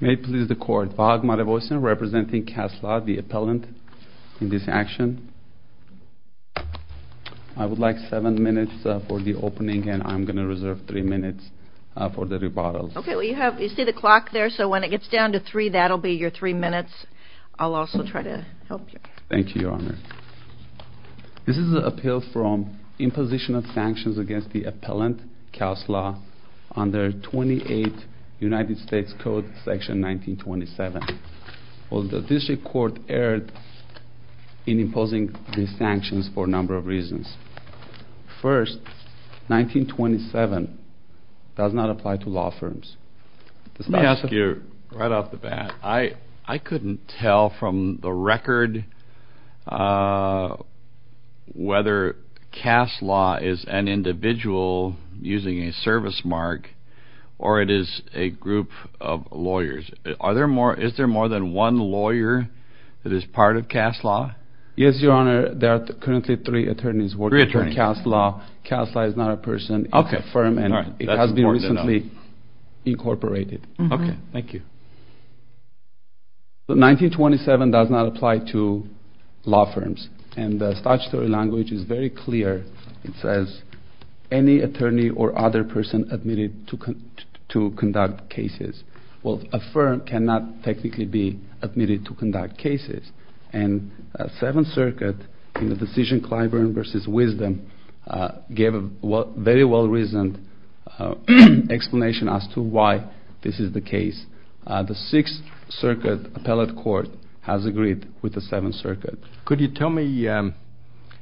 May it please the court, Vahag Marevosian representing Kaass Law, the appellant in this action. I would like seven minutes for the opening and I'm going to reserve three minutes for the rebuttal. Okay, well you have, you see the clock there, so when it gets down to three, that'll be your three minutes. I'll also try to help you. Thank you, your honor. This is an appeal from imposition of sanctions against the appellant, Kaass Law, under 28 United States Code section 1927. The district court erred in imposing these sanctions for a number of reasons. First, 1927 does not apply to law firms. Let me ask you, right off the bat, I couldn't tell from the record whether Kaass Law is an individual using a service mark or it is a group of lawyers. Is there more than one lawyer that is part of Kaass Law? Yes, your honor, there are currently three attorneys working for Kaass Law. Kaass Law is not a person, it's a firm and it has been recently incorporated. Okay, thank you. 1927 does not apply to law firms and the statutory language is very clear. It says any attorney or other person admitted to conduct cases. Well, a firm cannot technically be admitted to conduct cases and Seventh Circuit in the decision Clyburn v. Wisdom gave a very well reasoned explanation as to why this is the case. The Sixth Circuit appellate court has agreed with the Seventh Circuit. Could you tell me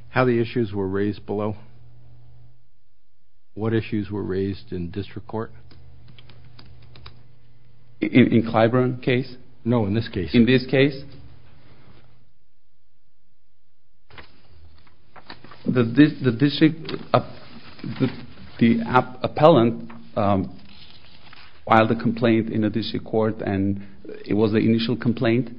how the issues were raised below? What issues were raised in district court? In Clyburn's case? No, in this case. In this case? The district, the appellant filed a complaint in the district court and it was the initial complaint?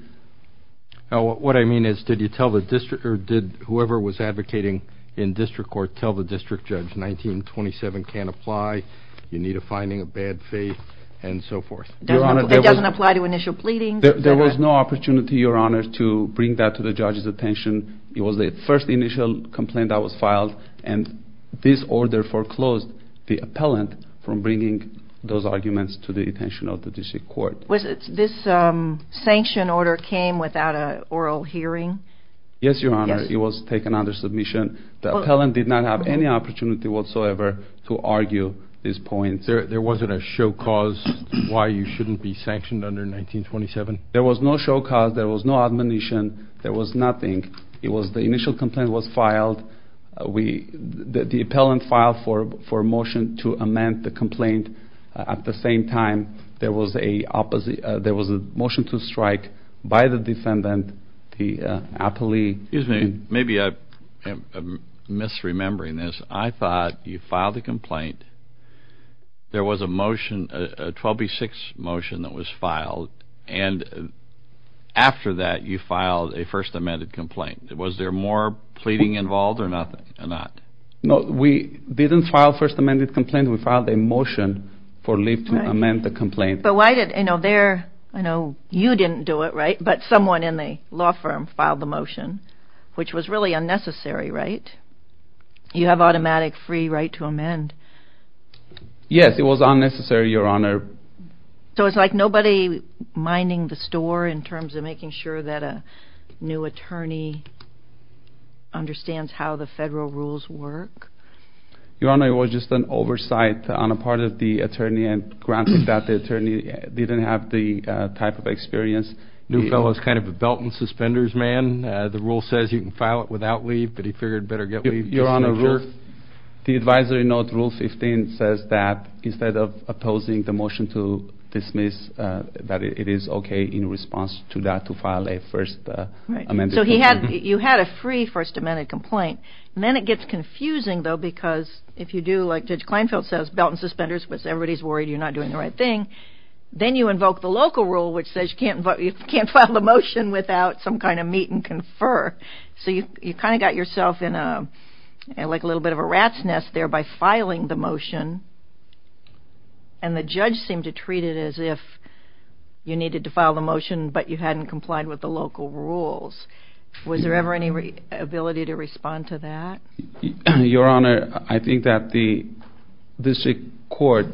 What I mean is did you tell the district or did whoever was advocating in district court tell the district judge 1927 can't apply, you need a finding of bad faith and so forth? It doesn't apply to initial pleadings. There was no opportunity, your honor, to bring that to the judge's attention. It was the first initial complaint that was filed and this order foreclosed the appellant from bringing those arguments to the attention of the district court. This sanction order came without an oral hearing? Yes, your honor. It was taken under submission. The appellant did not have any opportunity whatsoever to argue these points. There wasn't a show cause why you shouldn't be sanctioned under 1927? There was no show cause, there was no admonition, there was nothing. The initial complaint was filed, the appellant filed for a motion to amend the complaint. At the same time, there was a motion to strike by the defendant, the appellate. Excuse me, maybe I'm misremembering this, I thought you filed a complaint, there was a motion, a 12B6 motion that was filed, and after that you filed a first amended complaint. Was there more pleading involved or not? No, we didn't file a first amended complaint, we filed a motion to amend the complaint. I know you didn't do it, but someone in the law firm filed the motion, which was really unnecessary, right? You have automatic free right to amend. Yes, it was unnecessary, your honor. So it's like nobody minding the store in terms of making sure that a new attorney understands how the federal rules work? Your honor, it was just an oversight on the part of the attorney and granted that the attorney didn't have the type of experience. Newfellow is kind of a belt and suspenders man, the rule says you can file it without leave, but he figured he better get leave. Your honor, the advisory note rule 15 says that instead of opposing the motion to dismiss, that it is okay in response to that to file a first amended complaint. So you had a free first amended complaint, and then it gets confusing though because if you do like Judge Kleinfeld says, belt and suspenders, because everybody is worried you're not doing the right thing, then you invoke the local rule which says you can't file the motion without some kind of meet and confer. So you kind of got yourself in a little bit of a rat's nest there by filing the motion, and the judge seemed to treat it as if you needed to file the motion, but you hadn't complied with the local rules. Was there ever any ability to respond to that? Your honor, I think that the district court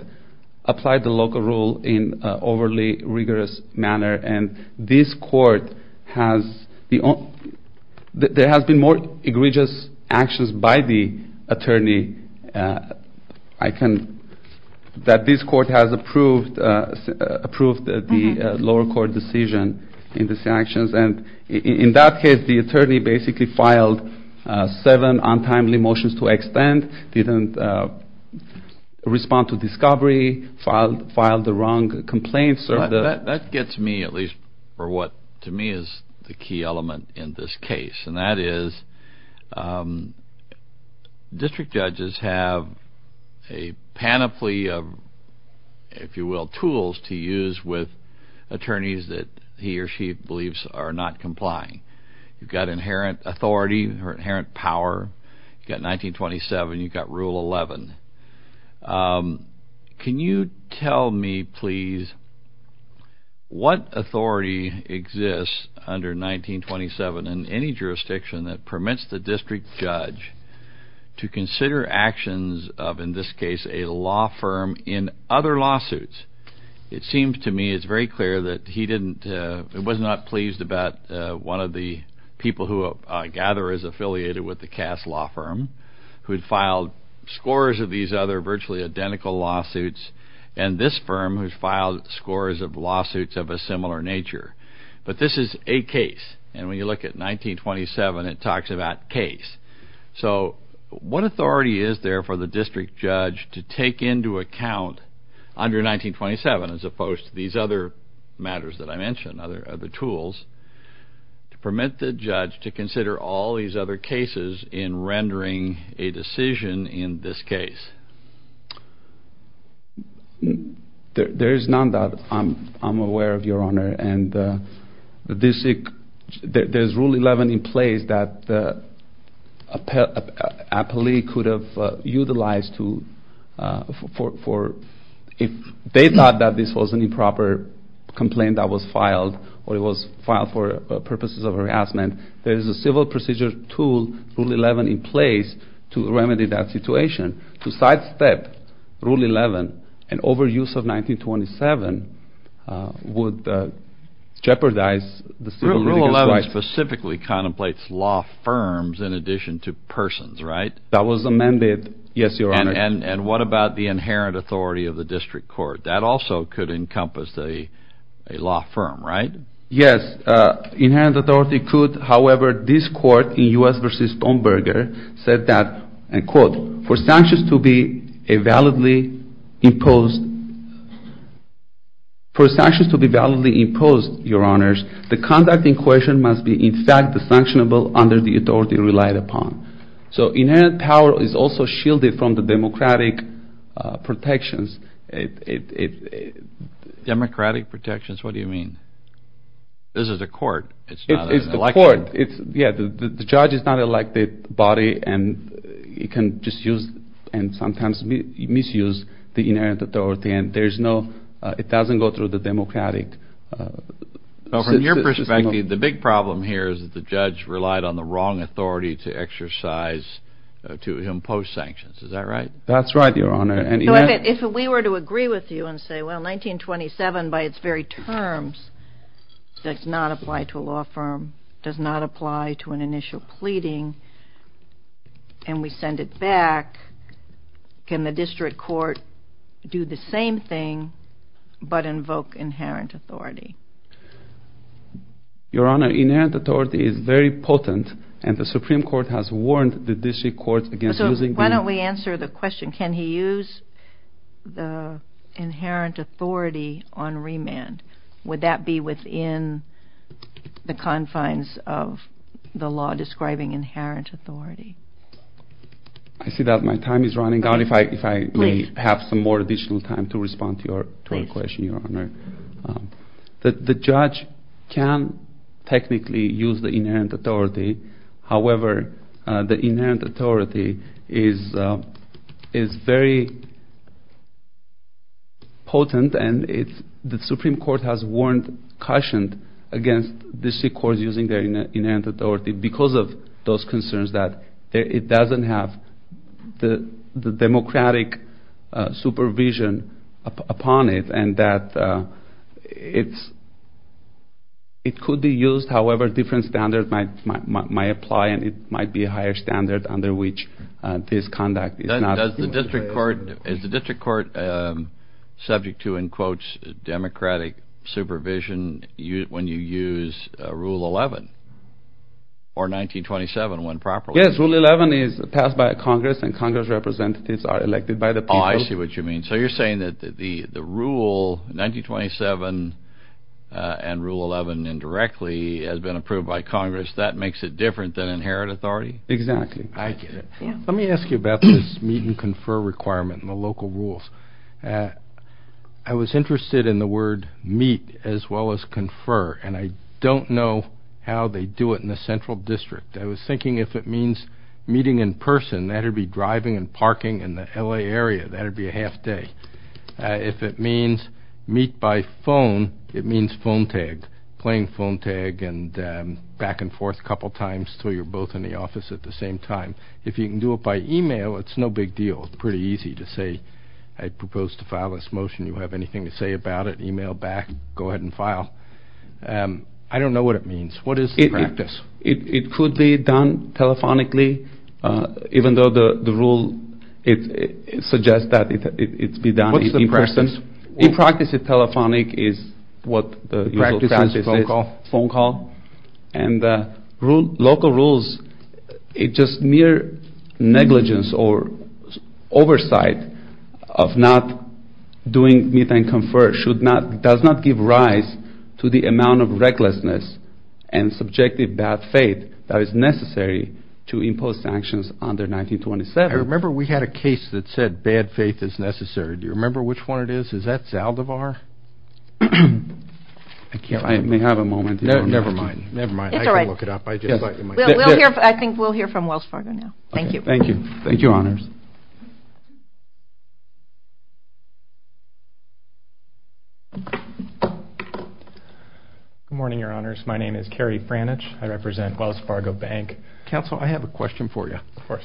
applied the local rule in an overly rigorous manner, and this court has, there has been more egregious actions by the attorney, I can, that this court has approved the lower court decision in these actions, and in that case the attorney basically filed seven untimely motions to extend, didn't respond to discovery, filed the wrong complaints. That gets me at least for what to me is the key element in this case, and that is district judges have a panoply of, if you will, tools to use with attorneys that he or she believes are not complying. You've got inherent authority or inherent power, you've got 1927, you've got Rule 11. Can you tell me, please, what authority exists under 1927 in any jurisdiction that permits the district judge to consider actions of, in this case, a law firm in other lawsuits? It seems to me it's very clear that he didn't, was not pleased about one of the people who I gather is affiliated with the Cass Law Firm, who had filed scores of these other virtually identical lawsuits, and this firm has filed scores of lawsuits of a similar nature. But this is a case, and when you look at 1927, it talks about case. So what authority is there for the district judge to take into account under 1927, as opposed to these other matters that I mentioned, other tools, to permit the judge to consider all these other cases in rendering a decision in this case? There is none that I'm aware of, Your Honor, and there's Rule 11 in place that a police could have utilized for, if they thought that this was an improper complaint that was filed, or it was filed for purposes of harassment, there is a civil procedure tool, Rule 11, in place to remedy that situation. To sidestep Rule 11 and overuse of 1927 would jeopardize the civil litigants' rights. Rule 11 specifically contemplates law firms in addition to persons, right? That was amended, yes, Your Honor. And what about the inherent authority of the district court? That also could encompass a law firm, right? Yes. Inherent authority could. However, this court in U.S. v. Stoneberger said that, and quote, for sanctions to be validly imposed, Your Honors, the conduct in question must be in fact sanctionable under the authority relied upon. So inherent power is also shielded from the democratic protections. Democratic protections? What do you mean? This is a court. It's not an election. It's the court. Yeah, the judge is not an elected body, and he can just use and sometimes misuse the inherent authority, and there's no – it doesn't go through the democratic system. From your perspective, the big problem here is that the judge relied on the wrong authority to exercise – to impose sanctions. Is that right? That's right, Your Honor. So if we were to agree with you and say, well, 1927 by its very terms does not apply to a law firm, does not apply to an initial pleading, and we send it back, can the district court do the same thing but invoke inherent authority? Your Honor, inherent authority is very potent, and the Supreme Court has warned the district court against using – Why don't we answer the question, can he use the inherent authority on remand? Would that be within the confines of the law describing inherent authority? I see that my time is running out. If I may have some more additional time to respond to your question, Your Honor. The judge can technically use the inherent authority. However, the inherent authority is very potent, and the Supreme Court has warned, cautioned against district courts using their inherent authority because of those concerns that it doesn't have the democratic supervision upon it, and that it could be used however different standards might apply, and it might be a higher standard under which this conduct is not – Does the district court – is the district court subject to, in quotes, democratic supervision when you use Rule 11 or 1927 when properly – Yes, Rule 11 is passed by Congress, and Congress representatives are elected by the people – Oh, I see what you mean. So you're saying that the rule, 1927 and Rule 11 indirectly has been approved by Congress, that makes it different than inherent authority? Exactly. I get it. Let me ask you about this meet and confer requirement and the local rules. I was interested in the word meet as well as confer, and I don't know how they do it in the central district. I was thinking if it means meeting in person, that would be driving and parking in the L.A. area. That would be a half day. If it means meet by phone, it means phone tag, playing phone tag and back and forth a couple times until you're both in the office at the same time. If you can do it by email, it's no big deal. It's pretty easy to say, I propose to file this motion. Do you have anything to say about it? Email back. Go ahead and file. I don't know what it means. What is the practice? It could be done telephonically, even though the rule suggests that it be done in person. What's the practice? In practice, telephonic is what the practice is. Phone call? Phone call. And local rules, it's just mere negligence or oversight of not doing meet and confer does not give rise to the amount of recklessness and subjective bad faith that is necessary to impose sanctions under 1927. I remember we had a case that said bad faith is necessary. Do you remember which one it is? Is that Zaldivar? I can't remember. I may have a moment. Never mind. Never mind. I can look it up. I think we'll hear from Wells Fargo now. Thank you. Thank you. Thank you, Honors. Good morning, Your Honors. My name is Kerry Frannich. I represent Wells Fargo Bank. Counsel, I have a question for you. Of course.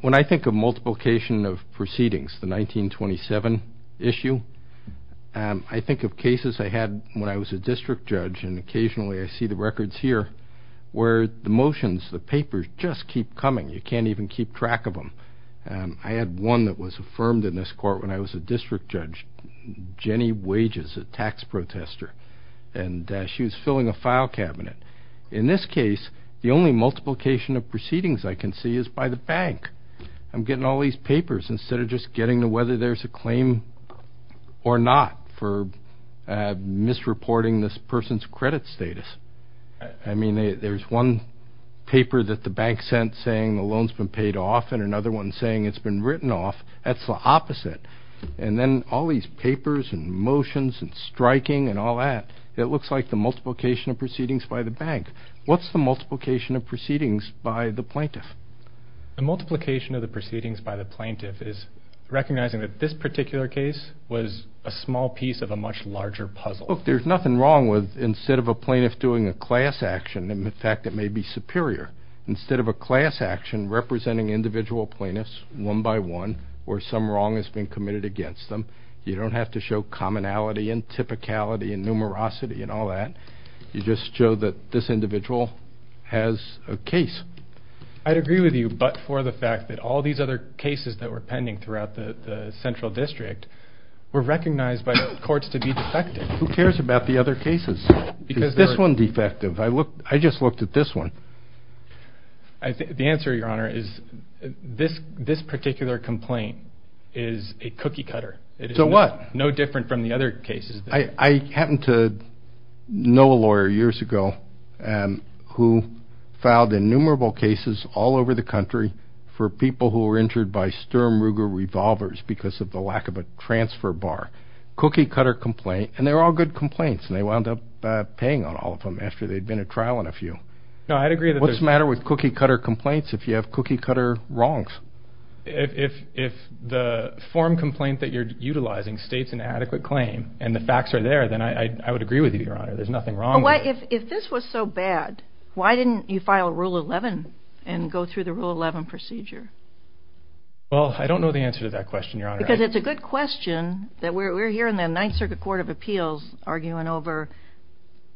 When I think of multiplication of proceedings, the 1927 issue, I think of cases I had when I was a district judge, and occasionally I see the records here, where the motions, the papers, just keep coming. You can't even keep track of them. I had one that was affirmed in this court when I was a district judge. Jenny Wages, a tax protester, and she was filling a file cabinet. In this case, the only multiplication of proceedings I can see is by the bank. I'm getting all these papers instead of just getting to whether there's a claim or not for misreporting this person's credit status. I mean, there's one paper that the bank sent saying the loan's been paid off and another one saying it's been written off. That's the opposite. And then all these papers and motions and striking and all that, it looks like the multiplication of proceedings by the bank. What's the multiplication of proceedings by the plaintiff? The multiplication of the proceedings by the plaintiff is recognizing that this particular case was a small piece of a much larger puzzle. Look, there's nothing wrong with instead of a plaintiff doing a class action, in fact, it may be superior. Instead of a class action representing individual plaintiffs one by one where some wrong has been committed against them, you don't have to show commonality and typicality and numerosity and all that. You just show that this individual has a case. I'd agree with you but for the fact that all these other cases that were pending throughout the central district were recognized by courts to be defective. Who cares about the other cases? Is this one defective? I just looked at this one. The answer, Your Honor, is this particular complaint is a cookie cutter. So what? No different from the other cases. I happened to know a lawyer years ago who filed innumerable cases all over the country for people who were injured by Sturm Ruger revolvers because of the lack of a transfer bar. Cookie cutter complaint and they're all good complaints and they wound up paying on all of them after they'd been at trial on a few. No, I'd agree. What's the matter with cookie cutter complaints if you have cookie cutter wrongs? If the form complaint that you're utilizing states an adequate claim and the facts are there, then I would agree with you, Your Honor. There's nothing wrong with it. If this was so bad, why didn't you file Rule 11 and go through the Rule 11 procedure? Well, I don't know the answer to that question, Your Honor. Because it's a good question that we're here in the Ninth Circuit Court of Appeals arguing over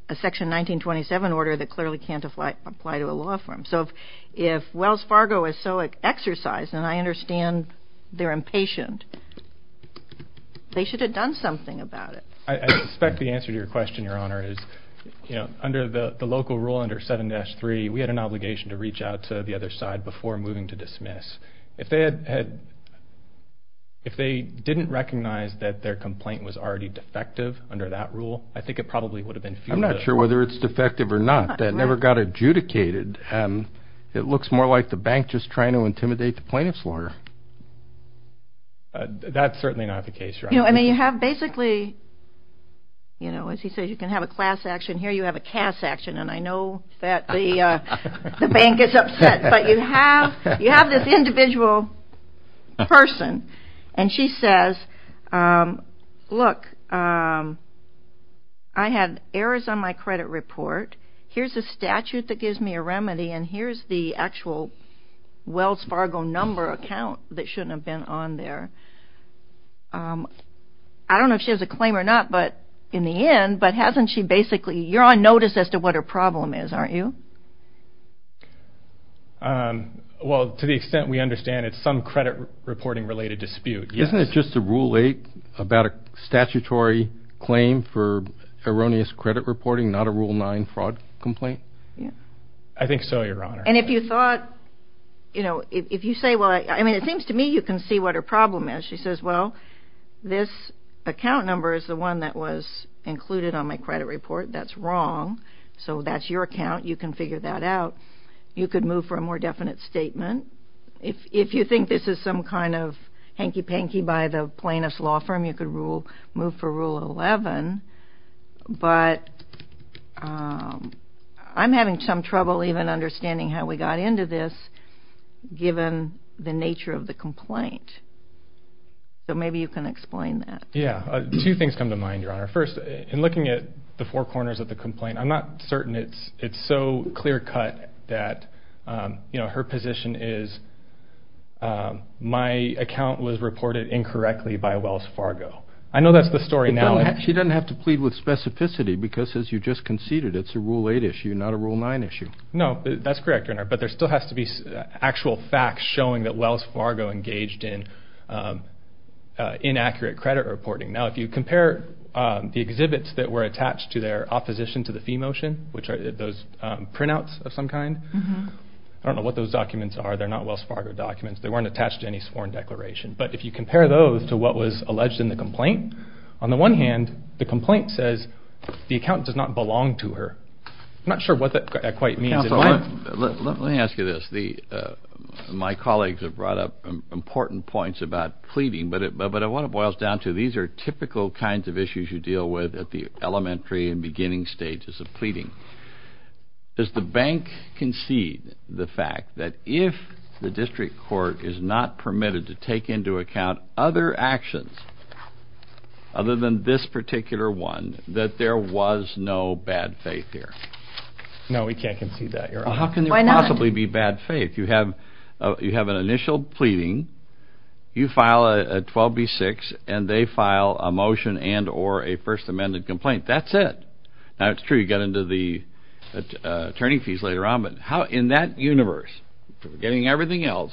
a Section 1927 order that clearly can't apply to a law firm. So if Wells Fargo is so exercised, and I understand they're impatient, they should have done something about it. I suspect the answer to your question, Your Honor, is under the local rule under 7-3, we had an obligation to reach out to the other side before moving to dismiss. If they didn't recognize that their complaint was already defective under that rule, I think it probably would have been fused. I'm not sure whether it's defective or not. That never got adjudicated. It looks more like the bank just trying to intimidate the plaintiff's lawyer. That's certainly not the case, Your Honor. You know, I mean, you have basically, you know, as he says, you can have a class action. And I know that the bank is upset. But you have this individual person, and she says, look, I had errors on my credit report. Here's a statute that gives me a remedy, and here's the actual Wells Fargo number account that shouldn't have been on there. I don't know if she has a claim or not, but in the end, but hasn't she basically, you're on notice as to what her problem is, aren't you? Well, to the extent we understand, it's some credit reporting-related dispute. Isn't it just a Rule 8 about a statutory claim for erroneous credit reporting, not a Rule 9 fraud complaint? I think so, Your Honor. And if you thought, you know, if you say, well, I mean, it seems to me you can see what her problem is. She says, well, this account number is the one that was included on my credit report. That's wrong. So that's your account. You can figure that out. You could move for a more definite statement. If you think this is some kind of hanky-panky by the plaintiff's law firm, you could move for Rule 11. But I'm having some trouble even understanding how we got into this, given the nature of the complaint. So maybe you can explain that. Yeah. Two things come to mind, Your Honor. First, in looking at the four corners of the complaint, I'm not certain it's so clear-cut that, you know, her position is, my account was reported incorrectly by Wells Fargo. I know that's the story now. She doesn't have to plead with specificity because, as you just conceded, it's a Rule 8 issue, not a Rule 9 issue. No, that's correct, Your Honor. But there still has to be actual facts showing that Wells Fargo engaged in inaccurate credit reporting. Now, if you compare the exhibits that were attached to their opposition to the fee motion, which are those printouts of some kind, I don't know what those documents are. They're not Wells Fargo documents. They weren't attached to any sworn declaration. But if you compare those to what was alleged in the complaint, on the one hand, the complaint says the accountant does not belong to her. I'm not sure what that quite means. Counsel, let me ask you this. My colleagues have brought up important points about pleading, but what it boils down to, these are typical kinds of issues you deal with at the elementary and beginning stages of pleading. Does the bank concede the fact that if the district court is not permitted to take into account other actions other than this particular one, that there was no bad faith here? No, we can't concede that, Your Honor. Well, how can there possibly be bad faith? You have an initial pleading. You file a 12B6, and they file a motion and or a First Amendment complaint. That's it. Now, it's true you get into the attorney fees later on, but in that universe, forgetting everything else,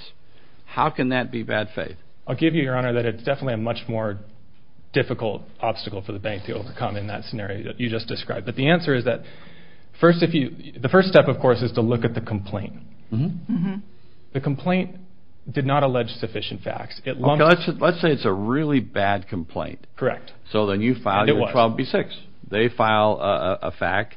how can that be bad faith? I'll give you, Your Honor, that it's definitely a much more difficult obstacle for the bank to overcome in that scenario that you just described. But the answer is that the first step, of course, is to look at the complaint. The complaint did not allege sufficient facts. Let's say it's a really bad complaint. Correct. So then you file your 12B6. They file a fact.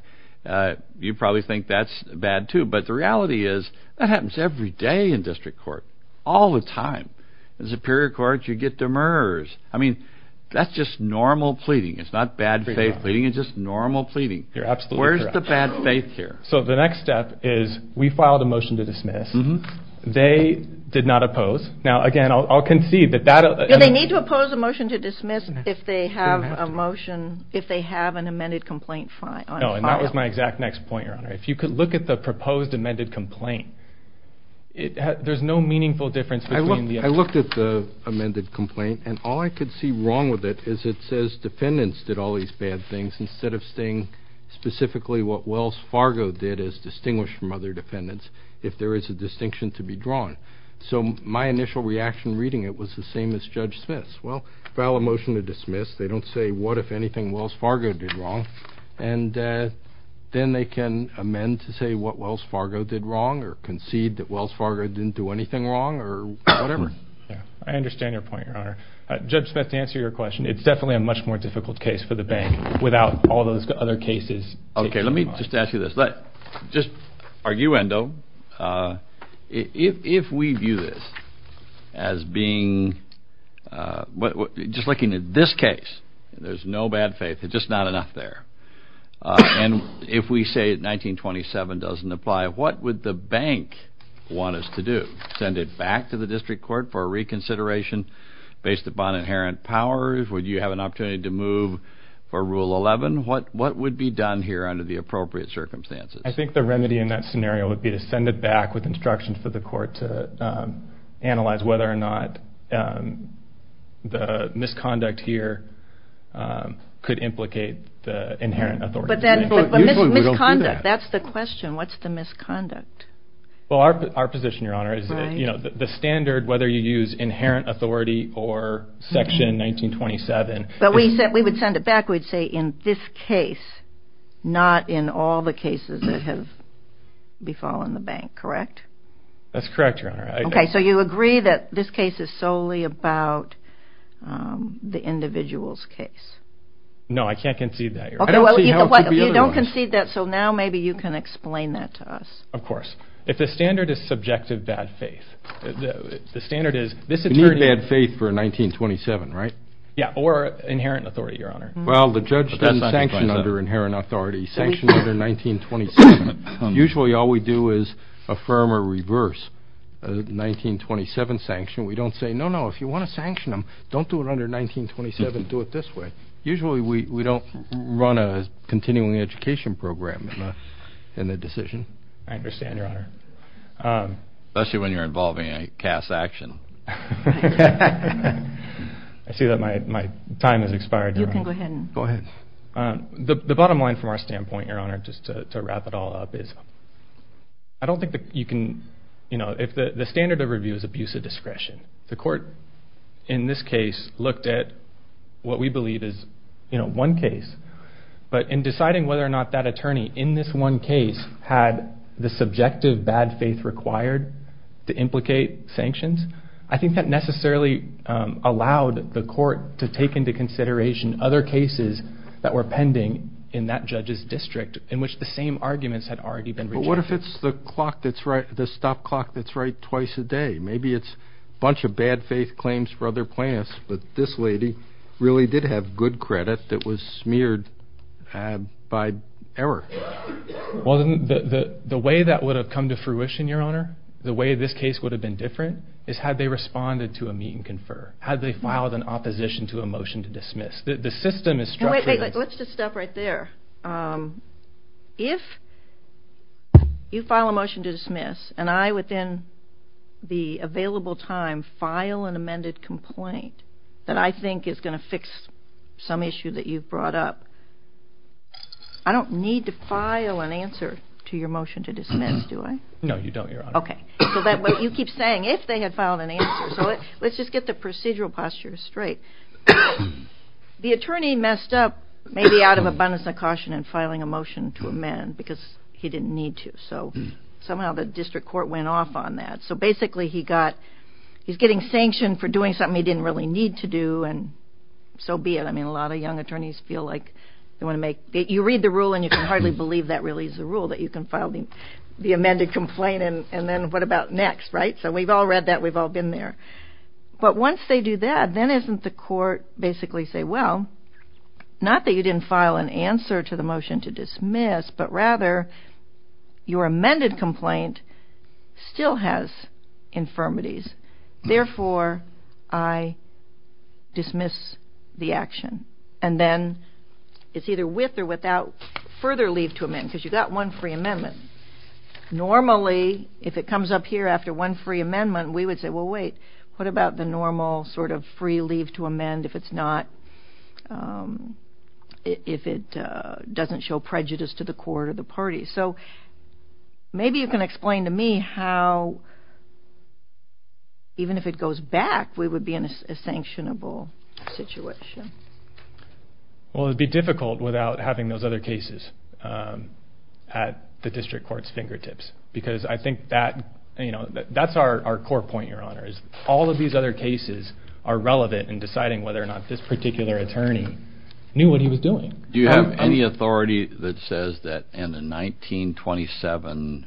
You probably think that's bad, too. But the reality is that happens every day in district court, all the time. In superior courts, you get demurrers. I mean, that's just normal pleading. It's not bad faith pleading. It's just normal pleading. You're absolutely correct. Where's the bad faith here? So the next step is we file the motion to dismiss. They did not oppose. Now, again, I'll concede that that... Do they need to oppose a motion to dismiss if they have a motion, if they have an amended complaint filed? No, and that was my exact next point, Your Honor. If you could look at the proposed amended complaint, there's no meaningful difference between the... I looked at the amended complaint, and all I could see wrong with it is it says defendants did all these bad things instead of saying specifically what Wells Fargo did as distinguished from other defendants, if there is a distinction to be drawn. So my initial reaction reading it was the same as Judge Smith's. Well, file a motion to dismiss. They don't say what, if anything, Wells Fargo did wrong, and then they can amend to say what Wells Fargo did wrong or concede that Wells Fargo didn't do anything wrong or whatever. I understand your point, Your Honor. Judge Smith, to answer your question, it's definitely a much more difficult case for the bank without all those other cases. Okay, let me just ask you this. Just arguendo, if we view this as being, just looking at this case, there's no bad faith. There's just not enough there. And if we say 1927 doesn't apply, what would the bank want us to do? Send it back to the district court for a reconsideration based upon inherent powers? Would you have an opportunity to move for Rule 11? What would be done here under the appropriate circumstances? I think the remedy in that scenario would be to send it back with instructions for the court to analyze whether or not the misconduct here could implicate the inherent authority. But misconduct, that's the question. What's the misconduct? Well, our position, Your Honor, is the standard, whether you use inherent authority or Section 1927. But we would send it back, we'd say in this case, not in all the cases that have befallen the bank, correct? That's correct, Your Honor. Okay, so you agree that this case is solely about the individual's case? No, I can't concede that, Your Honor. You don't concede that, so now maybe you can explain that to us. Of course. If the standard is subjective bad faith, the standard is this attorney... You need bad faith for 1927, right? Yeah, or inherent authority, Your Honor. Well, the judge doesn't sanction under inherent authority. Sanction under 1927, usually all we do is affirm or reverse a 1927 sanction. We don't say, no, no, if you want to sanction them, don't do it under 1927, do it this way. Usually we don't run a continuing education program in the decision. I understand, Your Honor. Especially when you're involving a Cass action. I see that my time has expired, Your Honor. You can go ahead. Go ahead. The bottom line from our standpoint, Your Honor, just to wrap it all up is I don't think that you can, you know, if the standard of review is abuse of discretion, the court in this case looked at what we believe is, you know, one case, but in deciding whether or not that attorney in this one case had the subjective bad faith required to implicate sanctions, I think that necessarily allowed the court to take into consideration other cases that were pending in that judge's district in which the same arguments had already been rejected. But what if it's the clock that's right, the stop clock that's right twice a day? Maybe it's a bunch of bad faith claims for other plans, but this lady really did have good credit that was smeared by error. Well, the way that would have come to fruition, Your Honor, the way this case would have been different is had they responded to a meet and confer, had they filed an opposition to a motion to dismiss. The system is structured. Let's just stop right there. If you file a motion to dismiss and I, within the available time, file an amended complaint that I think is going to fix some issue that you've brought up, I don't need to file an answer to your motion to dismiss, do I? No, you don't, Your Honor. Okay. So that way you keep saying if they had filed an answer. So let's just get the procedural posture straight. The attorney messed up maybe out of abundance of caution in filing a motion to amend because he didn't need to. So somehow the district court went off on that. So basically he got, he's getting sanctioned for doing something he didn't really need to do and so be it. I mean, a lot of young attorneys feel like they want to make, you read the rule and you can hardly believe that really is the rule, that you can file the amended complaint and then what about next, right? So we've all read that. We've all been there. But once they do that, then isn't the court basically say, well, not that you didn't file an answer to the motion to dismiss, but rather your amended complaint still has infirmities. Therefore, I dismiss the action. And then it's either with or without further leave to amend because you've got one free amendment. Normally, if it comes up here after one free amendment, we would say, well, wait. What about the normal sort of free leave to amend if it's not, if it doesn't show prejudice to the court or the party? So maybe you can explain to me how even if it goes back, we would be in a sanctionable situation. Well, it would be difficult without having those other cases at the district court's fingertips because I think that's our core point, Your Honor, is all of these other cases are relevant in deciding whether or not this particular attorney knew what he was doing. Do you have any authority that says that in the 1927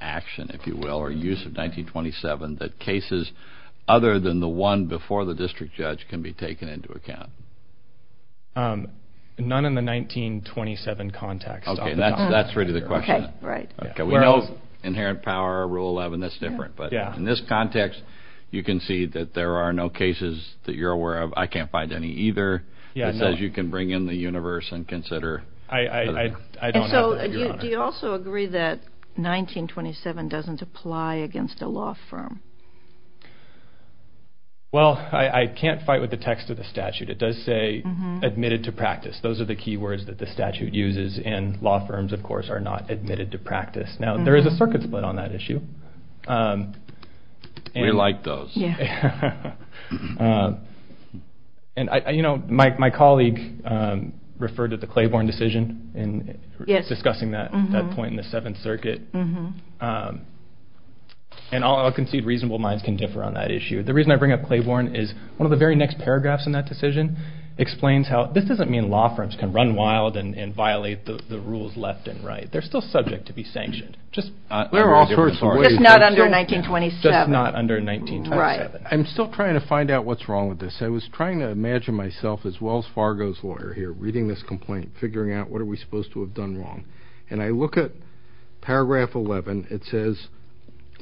action, if you will, or use of 1927, that cases other than the one before the district judge can be taken into account? None in the 1927 context. Okay, that's really the question. We know inherent power, Rule 11, that's different. But in this context, you can see that there are no cases that you're aware of. I can't find any either. It says you can bring in the universe and consider. Do you also agree that 1927 doesn't apply against a law firm? Well, I can't fight with the text of the statute. It does say admitted to practice. Those are the key words that the statute uses, and law firms, of course, are not admitted to practice. Now, there is a circuit split on that issue. We like those. My colleague referred to the Claiborne decision in discussing that point in the Seventh Circuit, and I'll concede reasonable minds can differ on that issue. The reason I bring up Claiborne is one of the very next paragraphs in that decision explains how this doesn't mean law firms can run wild and violate the rules left and right. They're still subject to be sanctioned. Just not under 1927. I'm still trying to find out what's wrong with this. I was trying to imagine myself as Wells Fargo's lawyer here, reading this complaint, figuring out what are we supposed to have done wrong. And I look at paragraph 11. It says,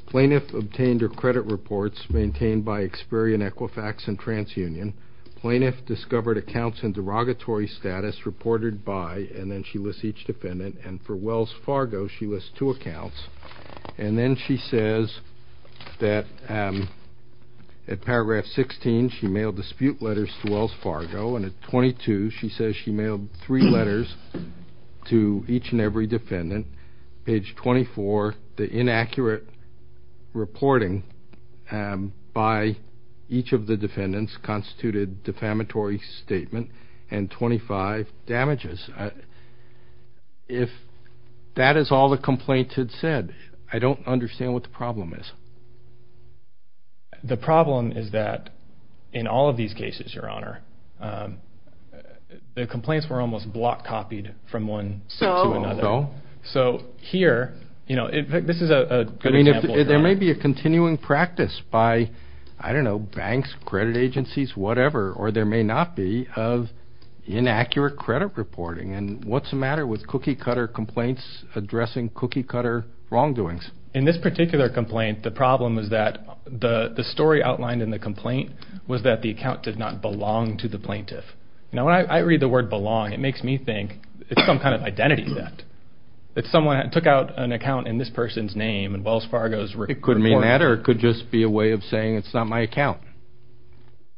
Plaintiff obtained her credit reports maintained by Experian, Equifax, and TransUnion. Plaintiff discovered accounts in derogatory status reported by, and then she lists each defendant, and for Wells Fargo, she lists two accounts. And then she says that at paragraph 16, she mailed dispute letters to Wells Fargo, and at 22, she says she mailed three letters to each and every defendant. Page 24, the inaccurate reporting by each of the defendants constituted defamatory statement and 25 damages. If that is all the complaints had said, I don't understand what the problem is. The problem is that in all of these cases, Your Honor, the complaints were almost block copied from one set to another. So here, this is a good example. There may be a continuing practice by, I don't know, banks, credit agencies, whatever, or there may not be of inaccurate credit reporting. And what's the matter with cookie-cutter complaints addressing cookie-cutter wrongdoings? In this particular complaint, the problem is that the story outlined in the complaint was that the account did not belong to the plaintiff. Now, when I read the word belong, it makes me think it's some kind of identity theft. If someone took out an account in this person's name and Wells Fargo's report. It could mean that or it could just be a way of saying it's not my account.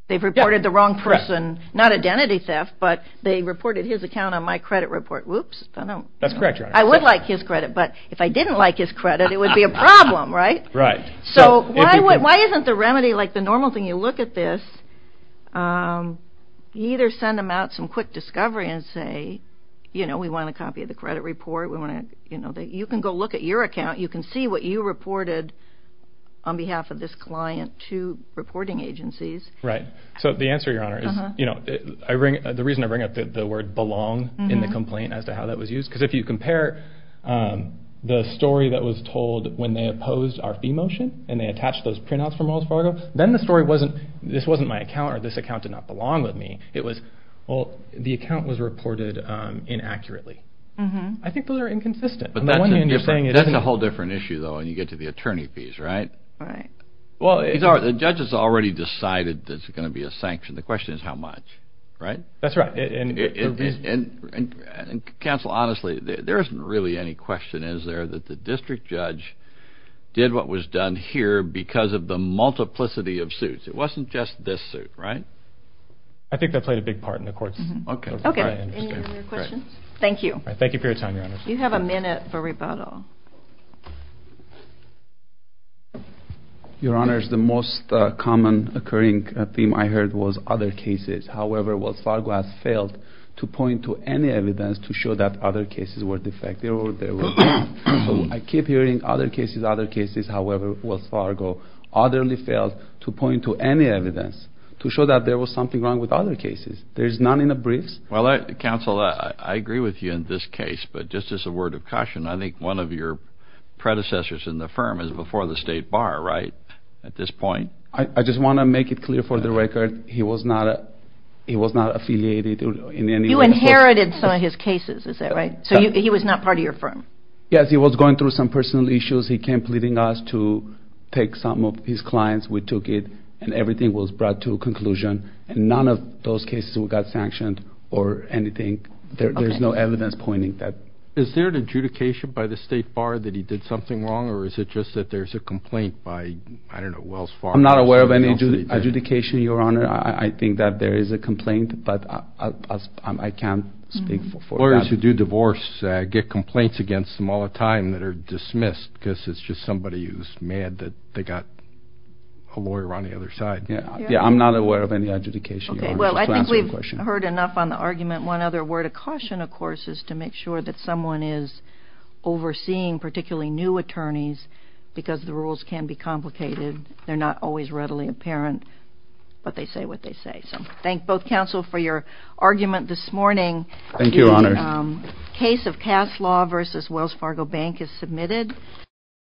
They've reported the wrong person. Not identity theft, but they reported his account on my credit report. Whoops. That's correct, Your Honor. I would like his credit, but if I didn't like his credit, it would be a problem, right? Right. So why isn't the remedy like the normal thing? You look at this. You either send them out some quick discovery and say, you know, we want a copy of the credit report. You can go look at your account. You can see what you reported on behalf of this client to reporting agencies. Right. So the answer, Your Honor, is, you know, the reason I bring up the word belong in the complaint as to how that was used, because if you compare the story that was told when they opposed our fee motion and they attached those printouts from Wells Fargo, then the story wasn't this wasn't my account or this account did not belong with me. It was, well, the account was reported inaccurately. I think those are inconsistent. That's a whole different issue, though, when you get to the attorney fees, right? Right. Well, the judge has already decided that it's going to be a sanction. The question is how much, right? That's right. Counsel, honestly, there isn't really any question, is there, that the district judge did what was done here because of the multiplicity of suits. It wasn't just this suit, right? I think that played a big part in the court's decision. Okay. Any other questions? Thank you. Thank you for your time, Your Honors. You have a minute for rebuttal. Your Honors, the most common occurring theme I heard was other cases. However, Wells Fargo has failed to point to any evidence to show that other cases were defective. I keep hearing other cases, other cases. However, Wells Fargo utterly failed to point to any evidence to show that there was something wrong with other cases. There is none in the briefs. Well, Counsel, I agree with you in this case, but just as a word of caution, I think one of your predecessors in the firm is before the State Bar, right, at this point? I just want to make it clear for the record he was not affiliated in any way. You inherited some of his cases, is that right? So he was not part of your firm? Yes, he was going through some personal issues. He came pleading us to take some of his clients. We took it, and everything was brought to a conclusion. None of those cases got sanctioned or anything. There's no evidence pointing that. Is there an adjudication by the State Bar that he did something wrong, or is it just that there's a complaint by, I don't know, Wells Fargo? I'm not aware of any adjudication, Your Honor. I think that there is a complaint, but I can't speak for that. Lawyers who do divorce get complaints against them all the time that are dismissed because it's just somebody who's mad that they got a lawyer on the other side. I'm not aware of any adjudication, Your Honor. I think we've heard enough on the argument. One other word of caution, of course, is to make sure that someone is overseeing, particularly new attorneys, because the rules can be complicated. They're not always readily apparent, but they say what they say. Thank both counsel for your argument this morning. Thank you, Your Honor. The case of Cass Law v. Wells Fargo Bank is submitted.